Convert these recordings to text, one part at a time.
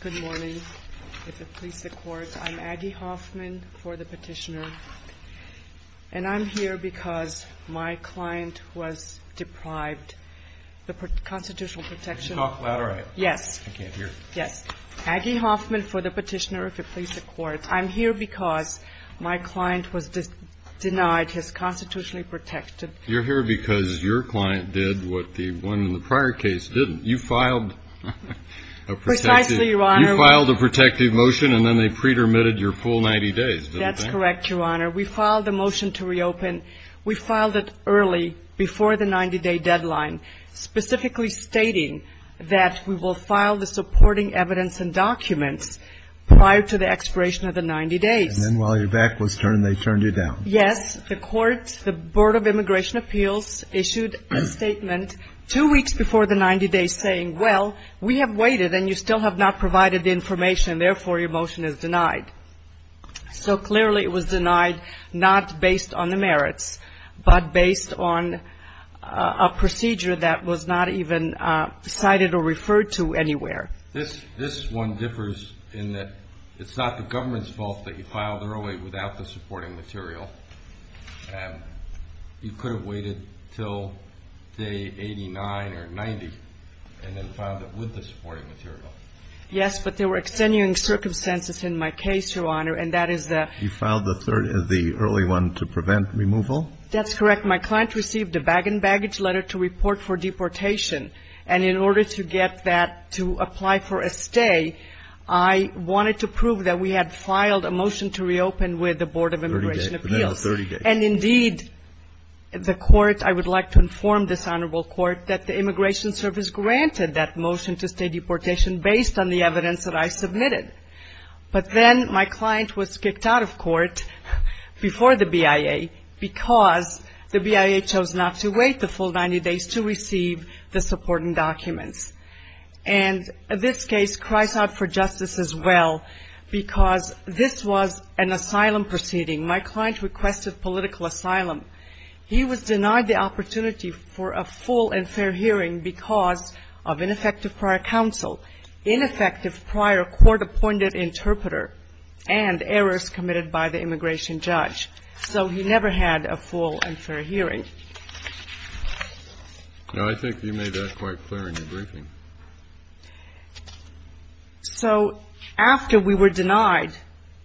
Good morning. If it pleases the Court, I'm Aggie Hoffman for the Petitioner, and I'm here because my client was deprived the constitutional protection. Could you talk louder? I can't hear. Yes. Aggie Hoffman for the Petitioner. If it pleases the Court, I'm here because my client was denied his constitutionally protected. You're here because your client did what the one in the prior case didn't. You filed a protective motion and then they pre-dermitted your full 90 days. That's correct, Your Honor. We filed a motion to reopen. We filed it early, before the 90-day deadline, specifically stating that we will file the supporting evidence and documents prior to the expiration of the 90 days. And then while your back was turned, they turned you down. Yes. The Court, the Board of Immigration Appeals issued a statement two weeks before the 90 days saying, well, we have waited and you still have not provided the information, therefore your motion is denied. So clearly it was denied not based on the merits, but based on a procedure that was not even cited or referred to anywhere. This one differs in that it's not the government's fault that you filed early without the supporting material. You could have waited until day 89 or 90 and then filed it with the supporting material. Yes, but there were extenuating circumstances in my case, Your Honor, and that is the – You filed the early one to prevent removal? That's correct. My client received a bag-in-baggage letter to report for deportation, and in order to get that to apply for a stay, I wanted to prove that we had filed a motion to reopen with the Board of Immigration Appeals. 30 days. And indeed, the Court – I would like to inform this Honorable Court that the Immigration Service granted that motion to stay deportation based on the evidence that I submitted. But then my client was kicked out of court before the BIA because the BIA chose not to wait the full 90 days to receive the supporting documents. And this case cries out for justice as well because this was an asylum proceeding. My client requested political asylum. He was denied the opportunity for a full and fair hearing because of ineffective prior counsel, ineffective prior court-appointed interpreter, and errors committed by the immigration judge. So he never had a full and fair hearing. Now, I think you made that quite clear in your briefing. So after we were denied,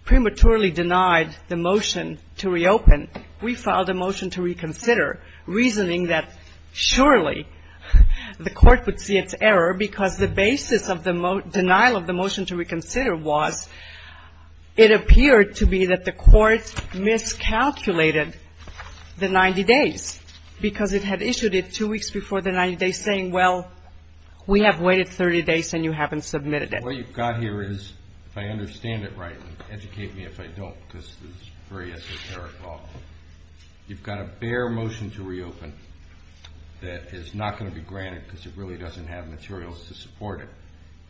prematurely denied the motion to reopen, we filed a motion to reconsider, reasoning that surely the Court would see its error because the basis of the denial of the motion to reconsider was it appeared to be that the Court miscalculated the 90 days because it had issued it two weeks before the 90 days saying, well, we don't have time. We have waited 30 days and you haven't submitted it. What you've got here is, if I understand it right, and educate me if I don't because this is very esoteric law, you've got a bare motion to reopen that is not going to be granted because it really doesn't have materials to support it.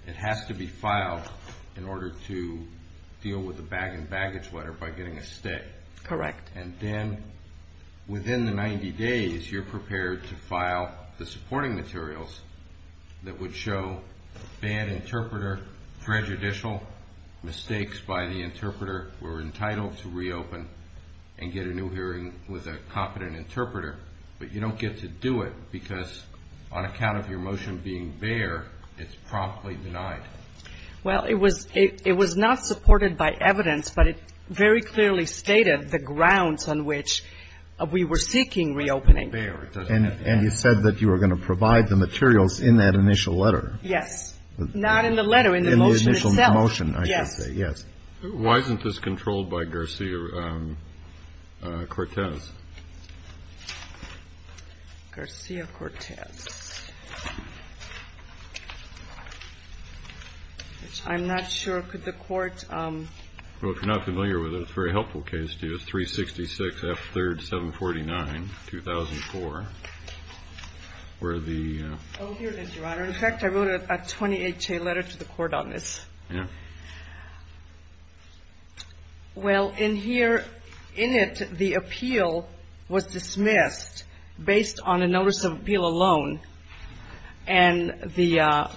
It has to be filed in order to deal with the bag and baggage letter by getting a stay. Correct. And then within the 90 days, you're prepared to file the supporting materials that would show bad interpreter, prejudicial, mistakes by the interpreter were entitled to reopen and get a new hearing with a competent interpreter. But you don't get to do it because on account of your motion being bare, it's promptly denied. Well, it was not supported by evidence, but it very clearly stated the grounds on which we were seeking reopening. And you said that you were going to provide the materials in that initial letter. Yes. Not in the letter, in the motion itself. In the initial motion, I should say. Yes. Why isn't this controlled by Garcia-Cortez? Garcia-Cortez. I'm not sure. Could the court? Well, if you're not familiar with it, it's a very helpful case, too. It's 366 F. 3rd, 749, 2004, where the. Oh, here it is, Your Honor. In fact, I wrote a 28-J letter to the court on this. Yeah. Well, in here, in it, the appeal was dismissed based on a notice of appeal alone, and the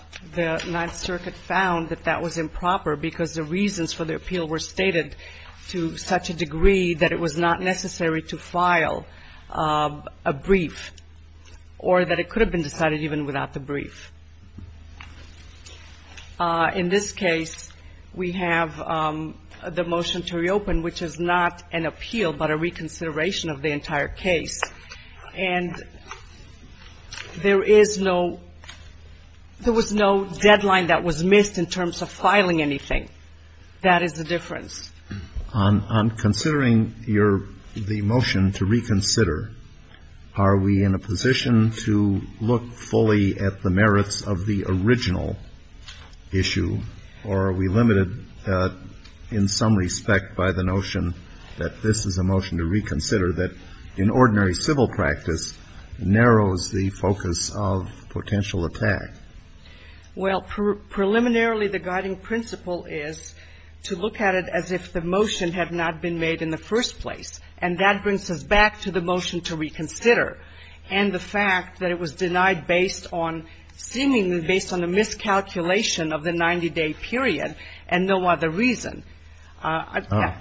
Ninth Circuit found that that was improper because the reasons for the appeal were stated to such a degree that it was not necessary to file a brief or that it could have been decided even without the brief. In this case, we have the motion to reopen, which is not an appeal but a reconsideration of the entire case. And there is no, there was no deadline that was missed in terms of filing anything. That is the difference. On considering your, the motion to reconsider, are we in a position to look fully at the merits of the original issue, or are we limited in some respect by the notion that this is a motion to reconsider that in ordinary civil practice narrows the focus of potential attack? Well, preliminarily, the guiding principle is to look at it as if the motion had not been made in the first place. And that brings us back to the motion to reconsider and the fact that it was denied based on, seemingly based on a miscalculation of the 90-day period and no other reason.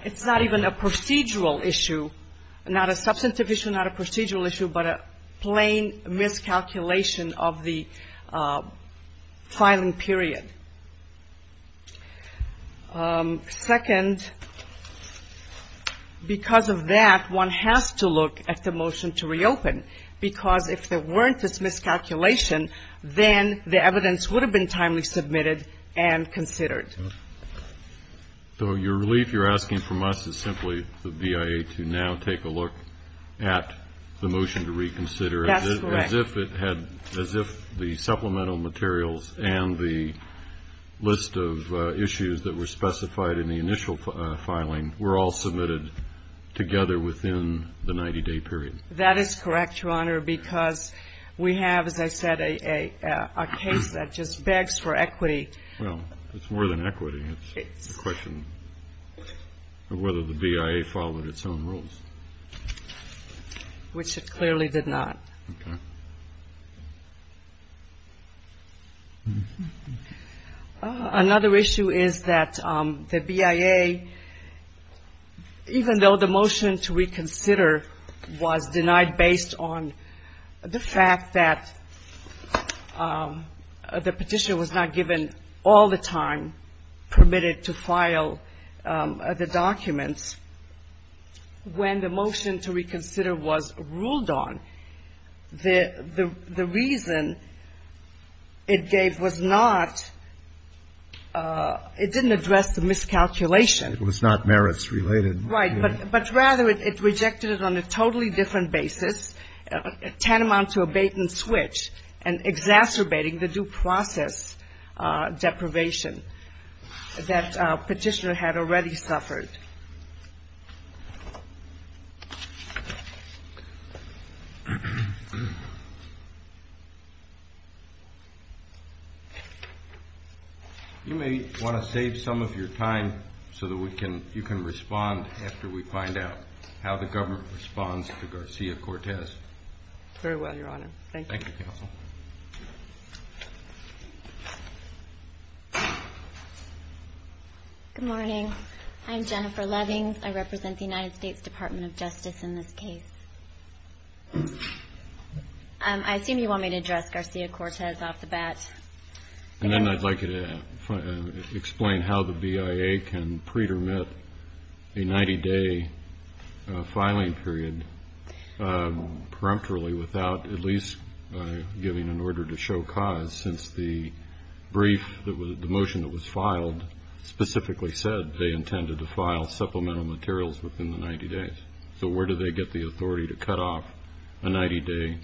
It's not even a procedural issue, not a substantive issue, not a procedural issue, but a plain miscalculation of the filing period. Second, because of that, one has to look at the motion to reopen, because if there weren't this miscalculation, then the evidence would have been timely submitted and considered. So your relief you're asking from us is simply the BIA to now take a look at the motion to reconsider. That's correct. And it had as if the supplemental materials and the list of issues that were specified in the initial filing were all submitted together within the 90-day period. That is correct, Your Honor, because we have, as I said, a case that just begs for equity. Well, it's more than equity. It's a question of whether the BIA followed its own rules. Which it clearly did not. Okay. Another issue is that the BIA, even though the motion to reconsider was denied based on the fact that the petition was not given all the time, permitted to file the documents, when the motion to reconsider was ruled on, the reason it gave was not, it didn't address the miscalculation. It was not merits-related. Right. But rather it rejected it on a totally different basis, tantamount to a bait-and-switch and exacerbating the due process deprivation that Petitioner had already suffered. You may want to save some of your time so that you can respond after we find out how the government responds to Garcia-Cortez. Very well, Your Honor. Thank you. Thank you, Counsel. Good morning. I'm Jennifer. I represent the United States Department of Justice in this case. I assume you want me to address Garcia-Cortez off the bat. And then I'd like you to explain how the BIA can pre-dermit a 90-day filing period peremptorily without at least giving an order to show cause, since the brief, the motion that was filed specifically said they intended to file supplemental materials within the 90 days. So where do they get the authority to cut off a 90-day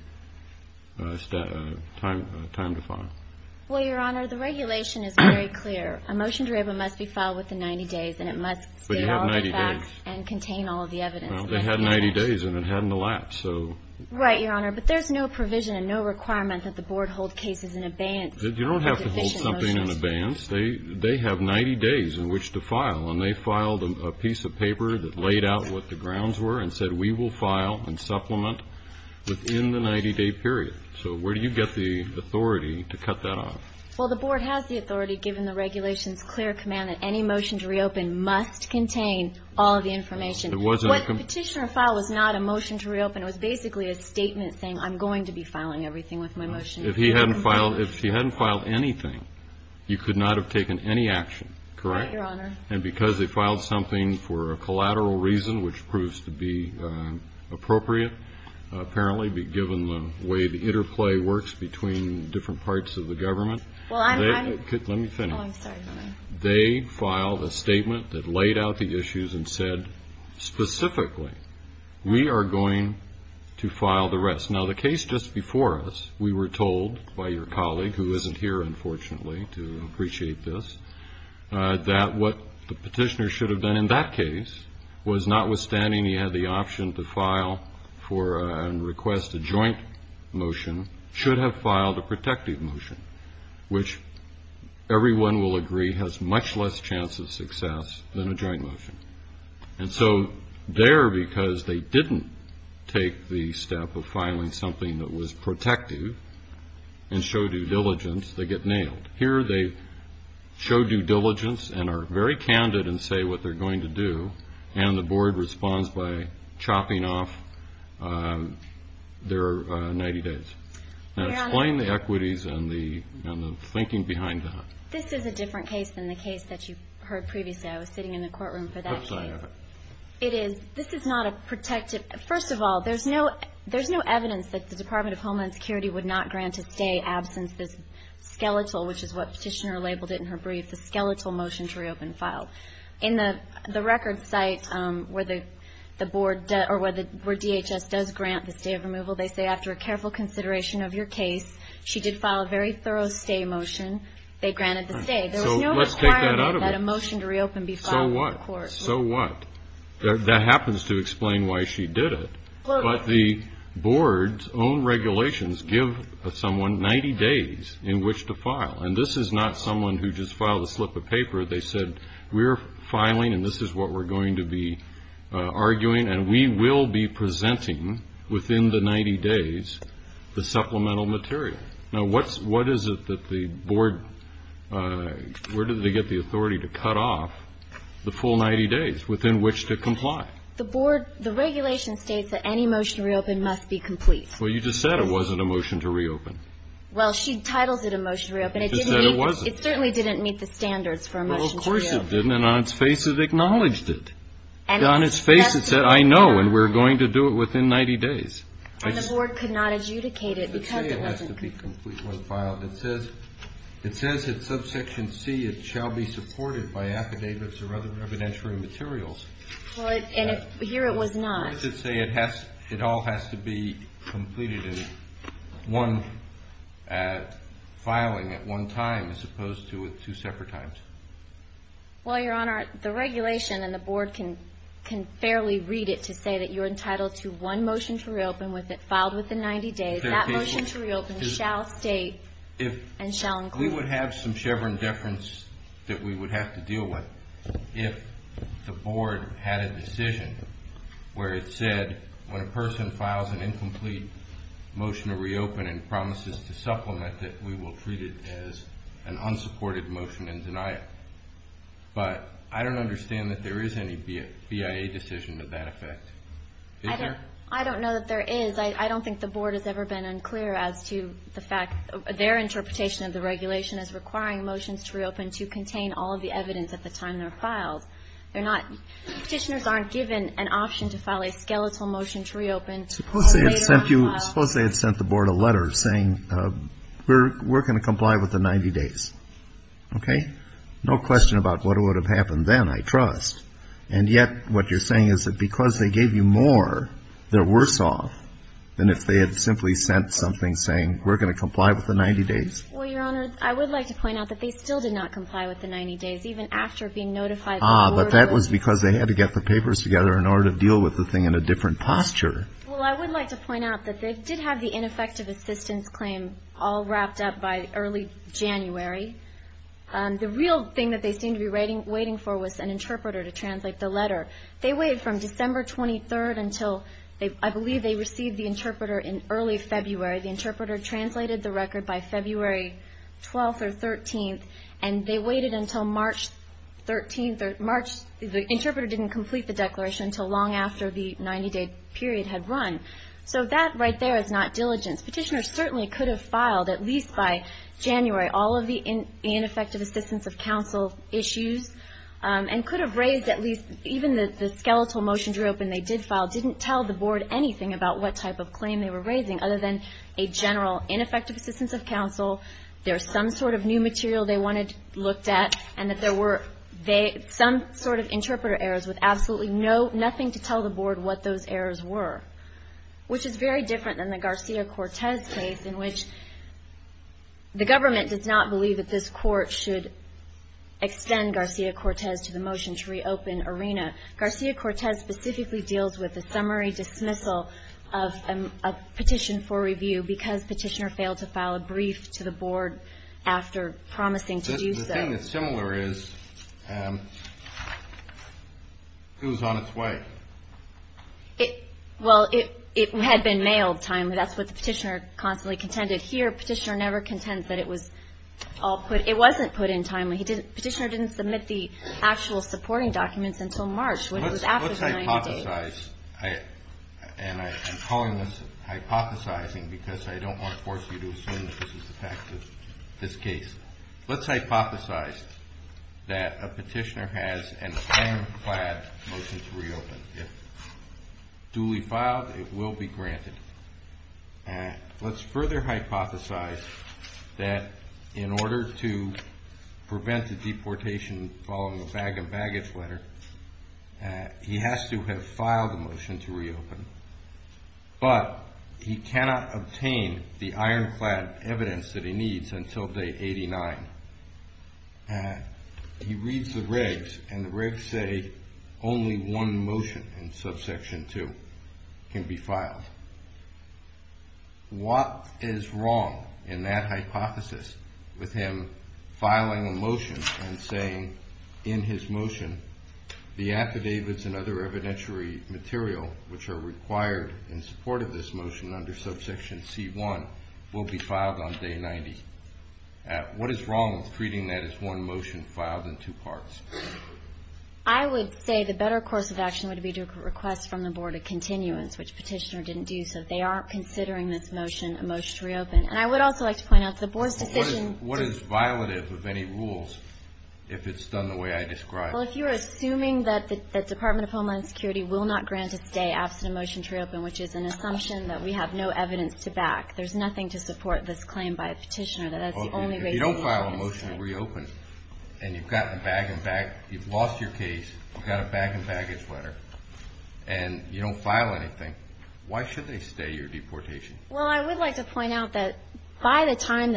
time to file? Well, Your Honor, the regulation is very clear. A motion to revoke must be filed within 90 days, and it must state all of the facts and contain all of the evidence. Well, they had 90 days, and it hadn't elapsed, so. Right, Your Honor. You don't have to hold something in advance. They have 90 days in which to file, and they filed a piece of paper that laid out what the grounds were and said we will file and supplement within the 90-day period. So where do you get the authority to cut that off? Well, the Board has the authority, given the regulation's clear command, that any motion to reopen must contain all of the information. What Petitioner filed was not a motion to reopen. It was basically a statement saying I'm going to be filing everything with my motion. If he hadn't filed anything, you could not have taken any action, correct? Right, Your Honor. And because they filed something for a collateral reason, which proves to be appropriate, apparently, given the way the interplay works between different parts of the government. Let me finish. Oh, I'm sorry, Your Honor. They filed a statement that laid out the issues and said specifically we are going to file the rest. Now, the case just before us, we were told by your colleague, who isn't here, unfortunately, to appreciate this, that what the Petitioner should have done in that case was notwithstanding he had the option to file for and request a joint motion, should have filed a protective motion, which everyone will agree has much less chance of success than a joint motion. And so there, because they didn't take the step of filing something that was protective and show due diligence, they get nailed. Here they show due diligence and are very candid and say what they're going to do, and the board responds by chopping off their 90 days. Now, explain the equities and the thinking behind that. This is a different case than the case that you heard previously. I was sitting in the courtroom for that case. It is. This is not a protective. First of all, there's no evidence that the Department of Homeland Security would not grant a stay absence this skeletal, which is what Petitioner labeled it in her brief, the skeletal motion to reopen file. In the record site where the board or where DHS does grant the stay of removal, they say after a careful consideration of your case, she did file a very thorough stay motion. They granted the stay. There was no requirement that a motion to reopen be filed in the court. So what? So what? That happens to explain why she did it. But the board's own regulations give someone 90 days in which to file. And this is not someone who just filed a slip of paper. They said we're filing, and this is what we're going to be arguing, and we will be presenting within the 90 days the supplemental material. Now, what is it that the board, where did they get the authority to cut off the full 90 days within which to comply? The board, the regulation states that any motion to reopen must be complete. Well, you just said it wasn't a motion to reopen. Well, she titles it a motion to reopen. It just said it wasn't. It certainly didn't meet the standards for a motion to reopen. Well, of course it didn't, and on its face it acknowledged it. And on its face it said, I know, and we're going to do it within 90 days. And the board could not adjudicate it because it wasn't. It doesn't say it has to be complete when filed. It says in subsection C it shall be supported by affidavits or other evidentiary materials. Well, and here it was not. Why does it say it all has to be completed in one filing at one time as opposed to at two separate times? Well, Your Honor, the regulation and the board can fairly read it to say that you're entitled to one motion to reopen filed within 90 days. That motion to reopen shall state and shall include. We would have some Chevron deference that we would have to deal with if the board had a decision where it said, when a person files an incomplete motion to reopen and promises to supplement it, we will treat it as an unsupported motion and deny it. But I don't understand that there is any BIA decision to that effect. Is there? I don't know that there is. I don't think the board has ever been unclear as to the fact their interpretation of the regulation is requiring motions to reopen to contain all of the evidence at the time they're filed. They're not. Petitioners aren't given an option to file a skeletal motion to reopen. Suppose they had sent you, suppose they had sent the board a letter saying we're going to comply with the 90 days. Okay. No question about what would have happened then, I trust. And yet what you're saying is that because they gave you more, they're worse off than if they had simply sent something saying we're going to comply with the 90 days. Well, Your Honor, I would like to point out that they still did not comply with the 90 days, even after being notified. Ah, but that was because they had to get the papers together in order to deal with the thing in a different posture. Well, I would like to point out that they did have the ineffective assistance claim all wrapped up by early January. The real thing that they seemed to be waiting for was an interpreter to translate the letter. They waited from December 23rd until I believe they received the interpreter in early February. The interpreter translated the record by February 12th or 13th, and they waited until March 13th. March, the interpreter didn't complete the declaration until long after the 90-day period had run. So that right there is not diligence. Petitioners certainly could have filed, at least by January, all of the ineffective assistance of counsel issues and could have raised at least, even the skeletal motion to reopen they did file, didn't tell the Board anything about what type of claim they were raising, other than a general ineffective assistance of counsel, there's some sort of new material they wanted looked at, and that there were some sort of interpreter errors with absolutely nothing to tell the Board what those errors were, which is very different than the Garcia-Cortez case, in which the government does not believe that this court should extend Garcia-Cortez to the motion to reopen ARENA. Garcia-Cortez specifically deals with a summary dismissal of a petition for review because Petitioner failed to file a brief to the Board after promising to do so. The thing that's similar is it was on its way. Well, it had been mailed timely. That's what the Petitioner constantly contended. Here, Petitioner never contends that it was all put, it wasn't put in timely. Petitioner didn't submit the actual supporting documents until March, when it was after the 90 days. Let's hypothesize, and I'm calling this hypothesizing because I don't want to force you to assume that this is the fact of this case. Let's hypothesize that a Petitioner has an ironclad motion to reopen. If duly filed, it will be granted. Let's further hypothesize that in order to prevent the deportation following the bag-and-baggage letter, he has to have filed a motion to reopen, but he cannot obtain the ironclad evidence that he needs until day 89. He reads the regs, and the regs say only one motion in subsection 2 can be filed. What is wrong in that hypothesis with him filing a motion and saying in his motion, the affidavits and other evidentiary material which are required in support of this motion under subsection C1 will be filed on day 90? What is wrong with treating that as one motion filed in two parts? I would say the better course of action would be to request from the Board a continuance, which Petitioner didn't do, so they aren't considering this motion a motion to reopen. And I would also like to point out the Board's decision to What is violative of any rules if it's done the way I described? Well, if you're assuming that the Department of Homeland Security will not grant its day absent a motion to reopen, which is an assumption that we have no evidence to back, there's nothing to support this claim by a petitioner. If you don't file a motion to reopen, and you've lost your case, you've got a bag and baggage letter, and you don't file anything, why should they stay your deportation? Well, I would like to point out that by the time,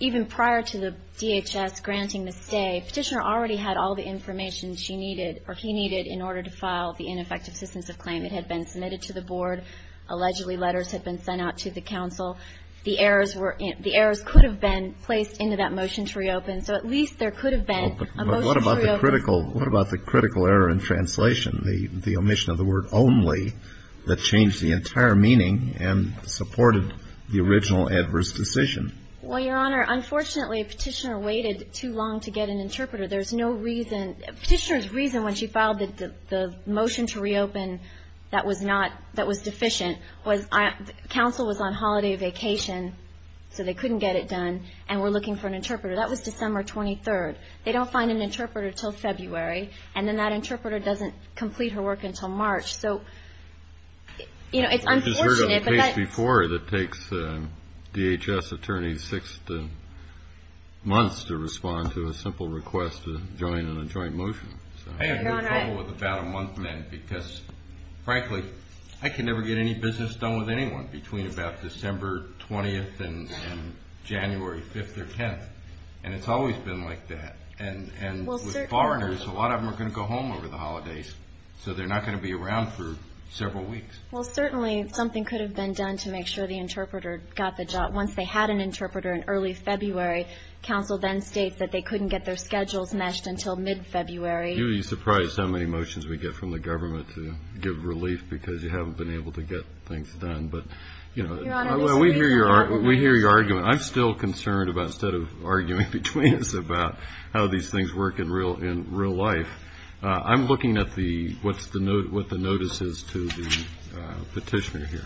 even prior to the DHS granting the stay, Petitioner already had all the information she needed, or he needed, in order to file the ineffective assistance of claim. It had been submitted to the Board. Allegedly, letters had been sent out to the counsel. The errors could have been placed into that motion to reopen. So at least there could have been a motion to reopen. What about the critical error in translation, the omission of the word only, that changed the entire meaning and supported the original adverse decision? Well, Your Honor, unfortunately, Petitioner waited too long to get an interpreter. There's no reason, Petitioner's reason when she filed the motion to reopen that was deficient, was counsel was on holiday vacation, so they couldn't get it done, and were looking for an interpreter. That was December 23rd. They don't find an interpreter until February, and then that interpreter doesn't complete her work until March. I've just heard of a case before that takes DHS attorneys six months to respond to a simple request to join in a joint motion. I have no trouble with about-a-month men because, frankly, I can never get any business done with anyone between about December 20th and January 5th or 10th, and it's always been like that. And with foreigners, a lot of them are going to go home over the holidays, so they're not going to be around for several weeks. Well, certainly something could have been done to make sure the interpreter got the job. Once they had an interpreter in early February, counsel then states that they couldn't get their schedules matched until mid-February. You'd be surprised how many motions we get from the government to give relief because you haven't been able to get things done. But, you know, we hear your argument. I'm still concerned about instead of arguing between us about how these things work in real life, I'm looking at what the notice is to the petitioner here.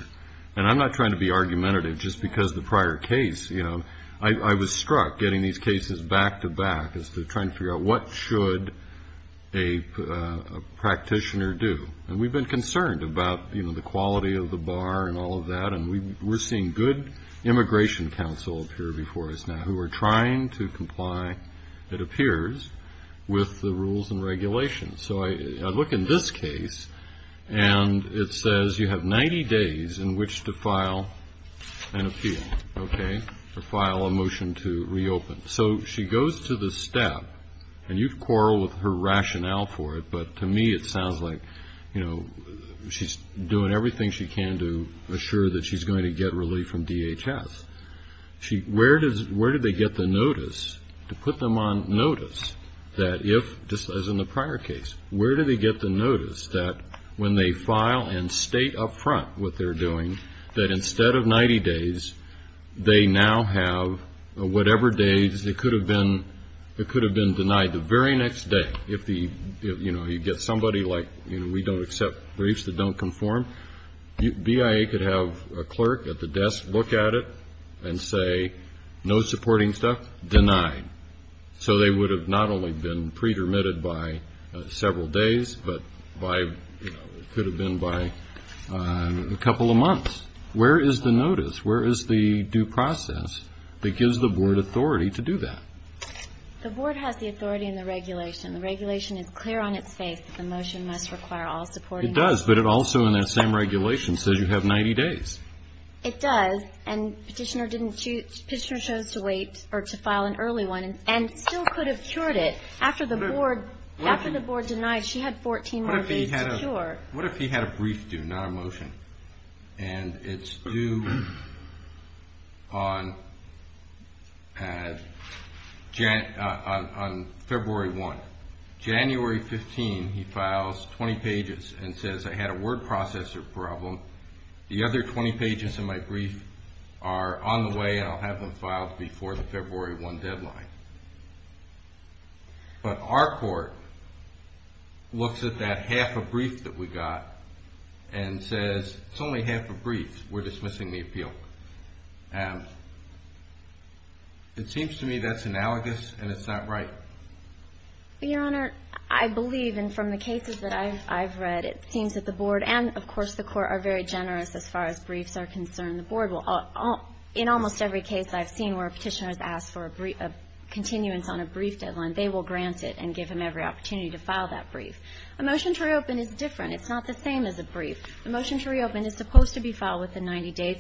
And I'm not trying to be argumentative just because the prior case, you know. I was struck getting these cases back-to-back as to trying to figure out what should a practitioner do. And we've been concerned about, you know, the quality of the bar and all of that, and we're seeing good immigration counsel appear before us now who are trying to comply, it appears, with the rules and regulations. So I look in this case, and it says you have 90 days in which to file an appeal, okay, or file a motion to reopen. So she goes to this step, and you've quarreled with her rationale for it, but to me it sounds like, you know, she's doing everything she can to assure that she's going to get relief from DHS. Where did they get the notice to put them on notice that if, just as in the prior case, where did they get the notice that when they file and state up front what they're doing, that instead of 90 days, they now have whatever days it could have been denied the very next day. If, you know, you get somebody like, you know, we don't accept briefs that don't conform, BIA could have a clerk at the desk look at it and say, no supporting stuff, denied. So they would have not only been pre-dermitted by several days, but by, you know, it could have been by a couple of months. Where is the notice? Where is the due process that gives the board authority to do that? The board has the authority and the regulation. The regulation is clear on its face that the motion must require all supporting. It does, but it also in that same regulation says you have 90 days. It does, and Petitioner chose to wait or to file an early one and still could have cured it. After the board denied, she had 14 more days to cure. What if he had a brief due, not a motion, and it's due on February 1? January 15, he files 20 pages and says I had a word processor problem. The other 20 pages in my brief are on the way, and I'll have them filed before the February 1 deadline. But our court looks at that half a brief that we got and says it's only half a brief. We're dismissing the appeal. It seems to me that's analogous, and it's not right. Your Honor, I believe, and from the cases that I've read, it seems that the board and, of course, the court are very generous as far as briefs are concerned. The board will, in almost every case I've seen where a Petitioner has asked for a brief of continuance on a brief deadline, they will grant it and give him every opportunity to file that brief. A motion to reopen is different. It's not the same as a brief. A motion to reopen is supposed to be filed within 90 days,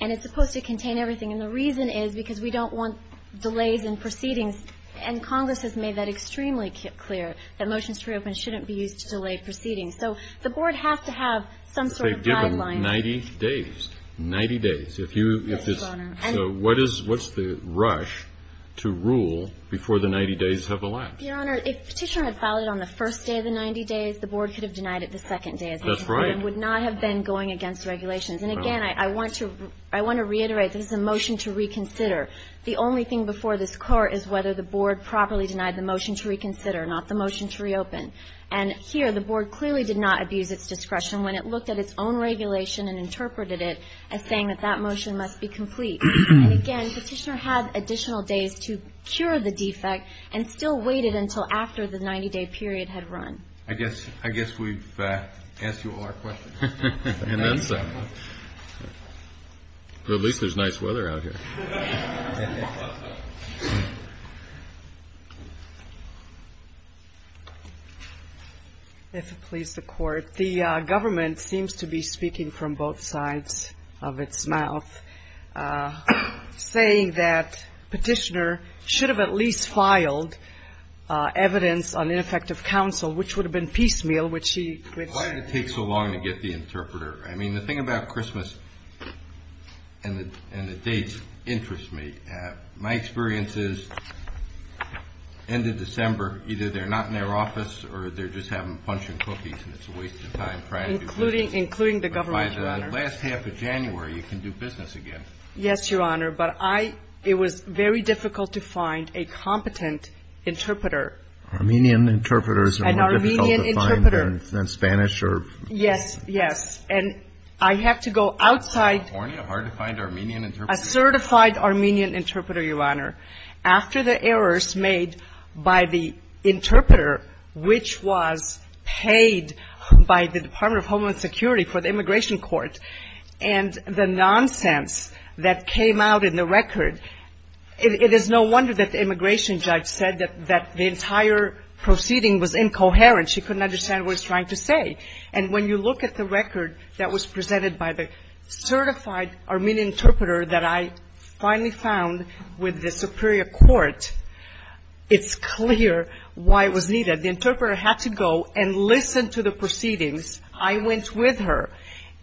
and it's supposed to contain everything. And the reason is because we don't want delays in proceedings, and Congress has made that extremely clear, that motions to reopen shouldn't be used to delay proceedings. So the board has to have some sort of guideline. They've given 90 days. 90 days. If you, if this. Yes, Your Honor. So what is, what's the rush to rule before the 90 days have elapsed? Your Honor, if Petitioner had filed it on the first day of the 90 days, the board could have denied it the second day of the 90 days. That's right. And would not have been going against regulations. And again, I want to, I want to reiterate, this is a motion to reconsider. The only thing before this Court is whether the board properly denied the motion to reconsider, not the motion to reopen. And here, the board clearly did not abuse its discretion when it looked at its own regulation and interpreted it as saying that that motion must be complete. And again, Petitioner had additional days to cure the defect and still waited until after the 90-day period had run. I guess, I guess we've asked you all our questions. At least there's nice weather out here. If it pleases the Court, the government seems to be speaking from both sides of its mouth, saying that Petitioner should have at least filed evidence on ineffective counsel, which would have been piecemeal, which he. Why did it take so long to get the interpreter? I mean, the thing about Christmas and the dates interests me. My experience is, end of December, either they're not in their office or they're just having a bunch of cookies and it's a waste of time trying to do business. Including the government, Your Honor. But by the last half of January, you can do business again. Yes, Your Honor. But I, it was very difficult to find a competent interpreter. Armenian interpreters are difficult to find. Yes, yes. And I have to go outside. In California, hard to find Armenian interpreters. A certified Armenian interpreter, Your Honor. After the errors made by the interpreter, which was paid by the Department of Homeland Security for the immigration court, and the nonsense that came out in the record, it is no wonder that the immigration judge said that the entire proceeding was incoherent. She couldn't understand what it was trying to say. And when you look at the record that was presented by the certified Armenian interpreter that I finally found with the superior court, it's clear why it was needed. The interpreter had to go and listen to the proceedings. I went with her.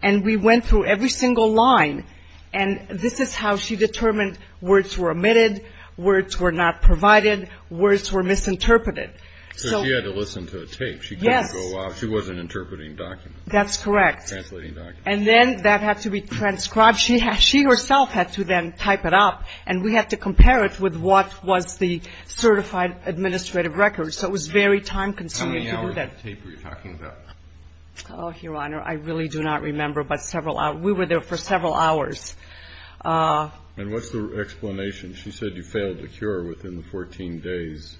And we went through every single line. And this is how she determined words were omitted, words were not provided, words were misinterpreted. So she had to listen to a tape. Yes. She couldn't go out. She wasn't interpreting documents. That's correct. Translating documents. And then that had to be transcribed. She herself had to then type it up. And we had to compare it with what was the certified administrative record. So it was very time-consuming to do that. How many hours of tape were you talking about? Oh, Your Honor, I really do not remember, but several hours. We were there for several hours. And what's the explanation? She said you failed to cure within the 14 days.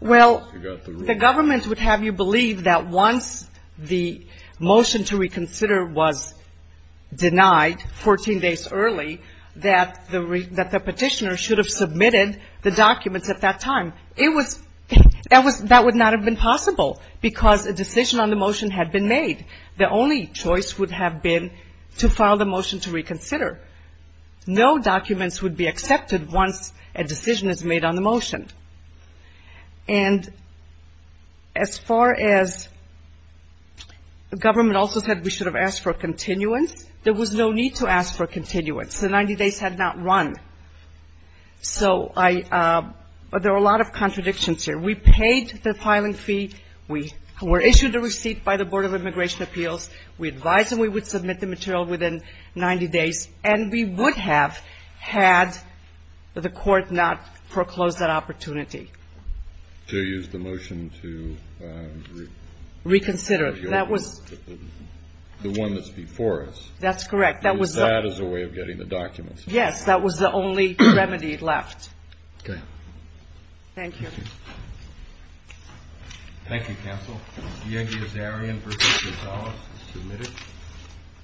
Well, the government would have you believe that once the motion to reconsider was denied 14 days early, that the petitioner should have submitted the documents at that time. It was that was that would not have been possible because a decision on the motion had been made. The only choice would have been to file the motion to reconsider. And as far as the government also said we should have asked for a continuance, there was no need to ask for a continuance. The 90 days had not run. So there were a lot of contradictions here. We paid the filing fee. We were issued a receipt by the Board of Immigration Appeals. We advised them we would submit the material within 90 days. And we would have had the court not proclosed that opportunity. So you used the motion to... Reconsider. The one that's before us. That's correct. That was a way of getting the documents. Yes, that was the only remedy left. Okay. Thank you. Thank you, counsel. D.N. Giazarian v. Gonzalez is submitted.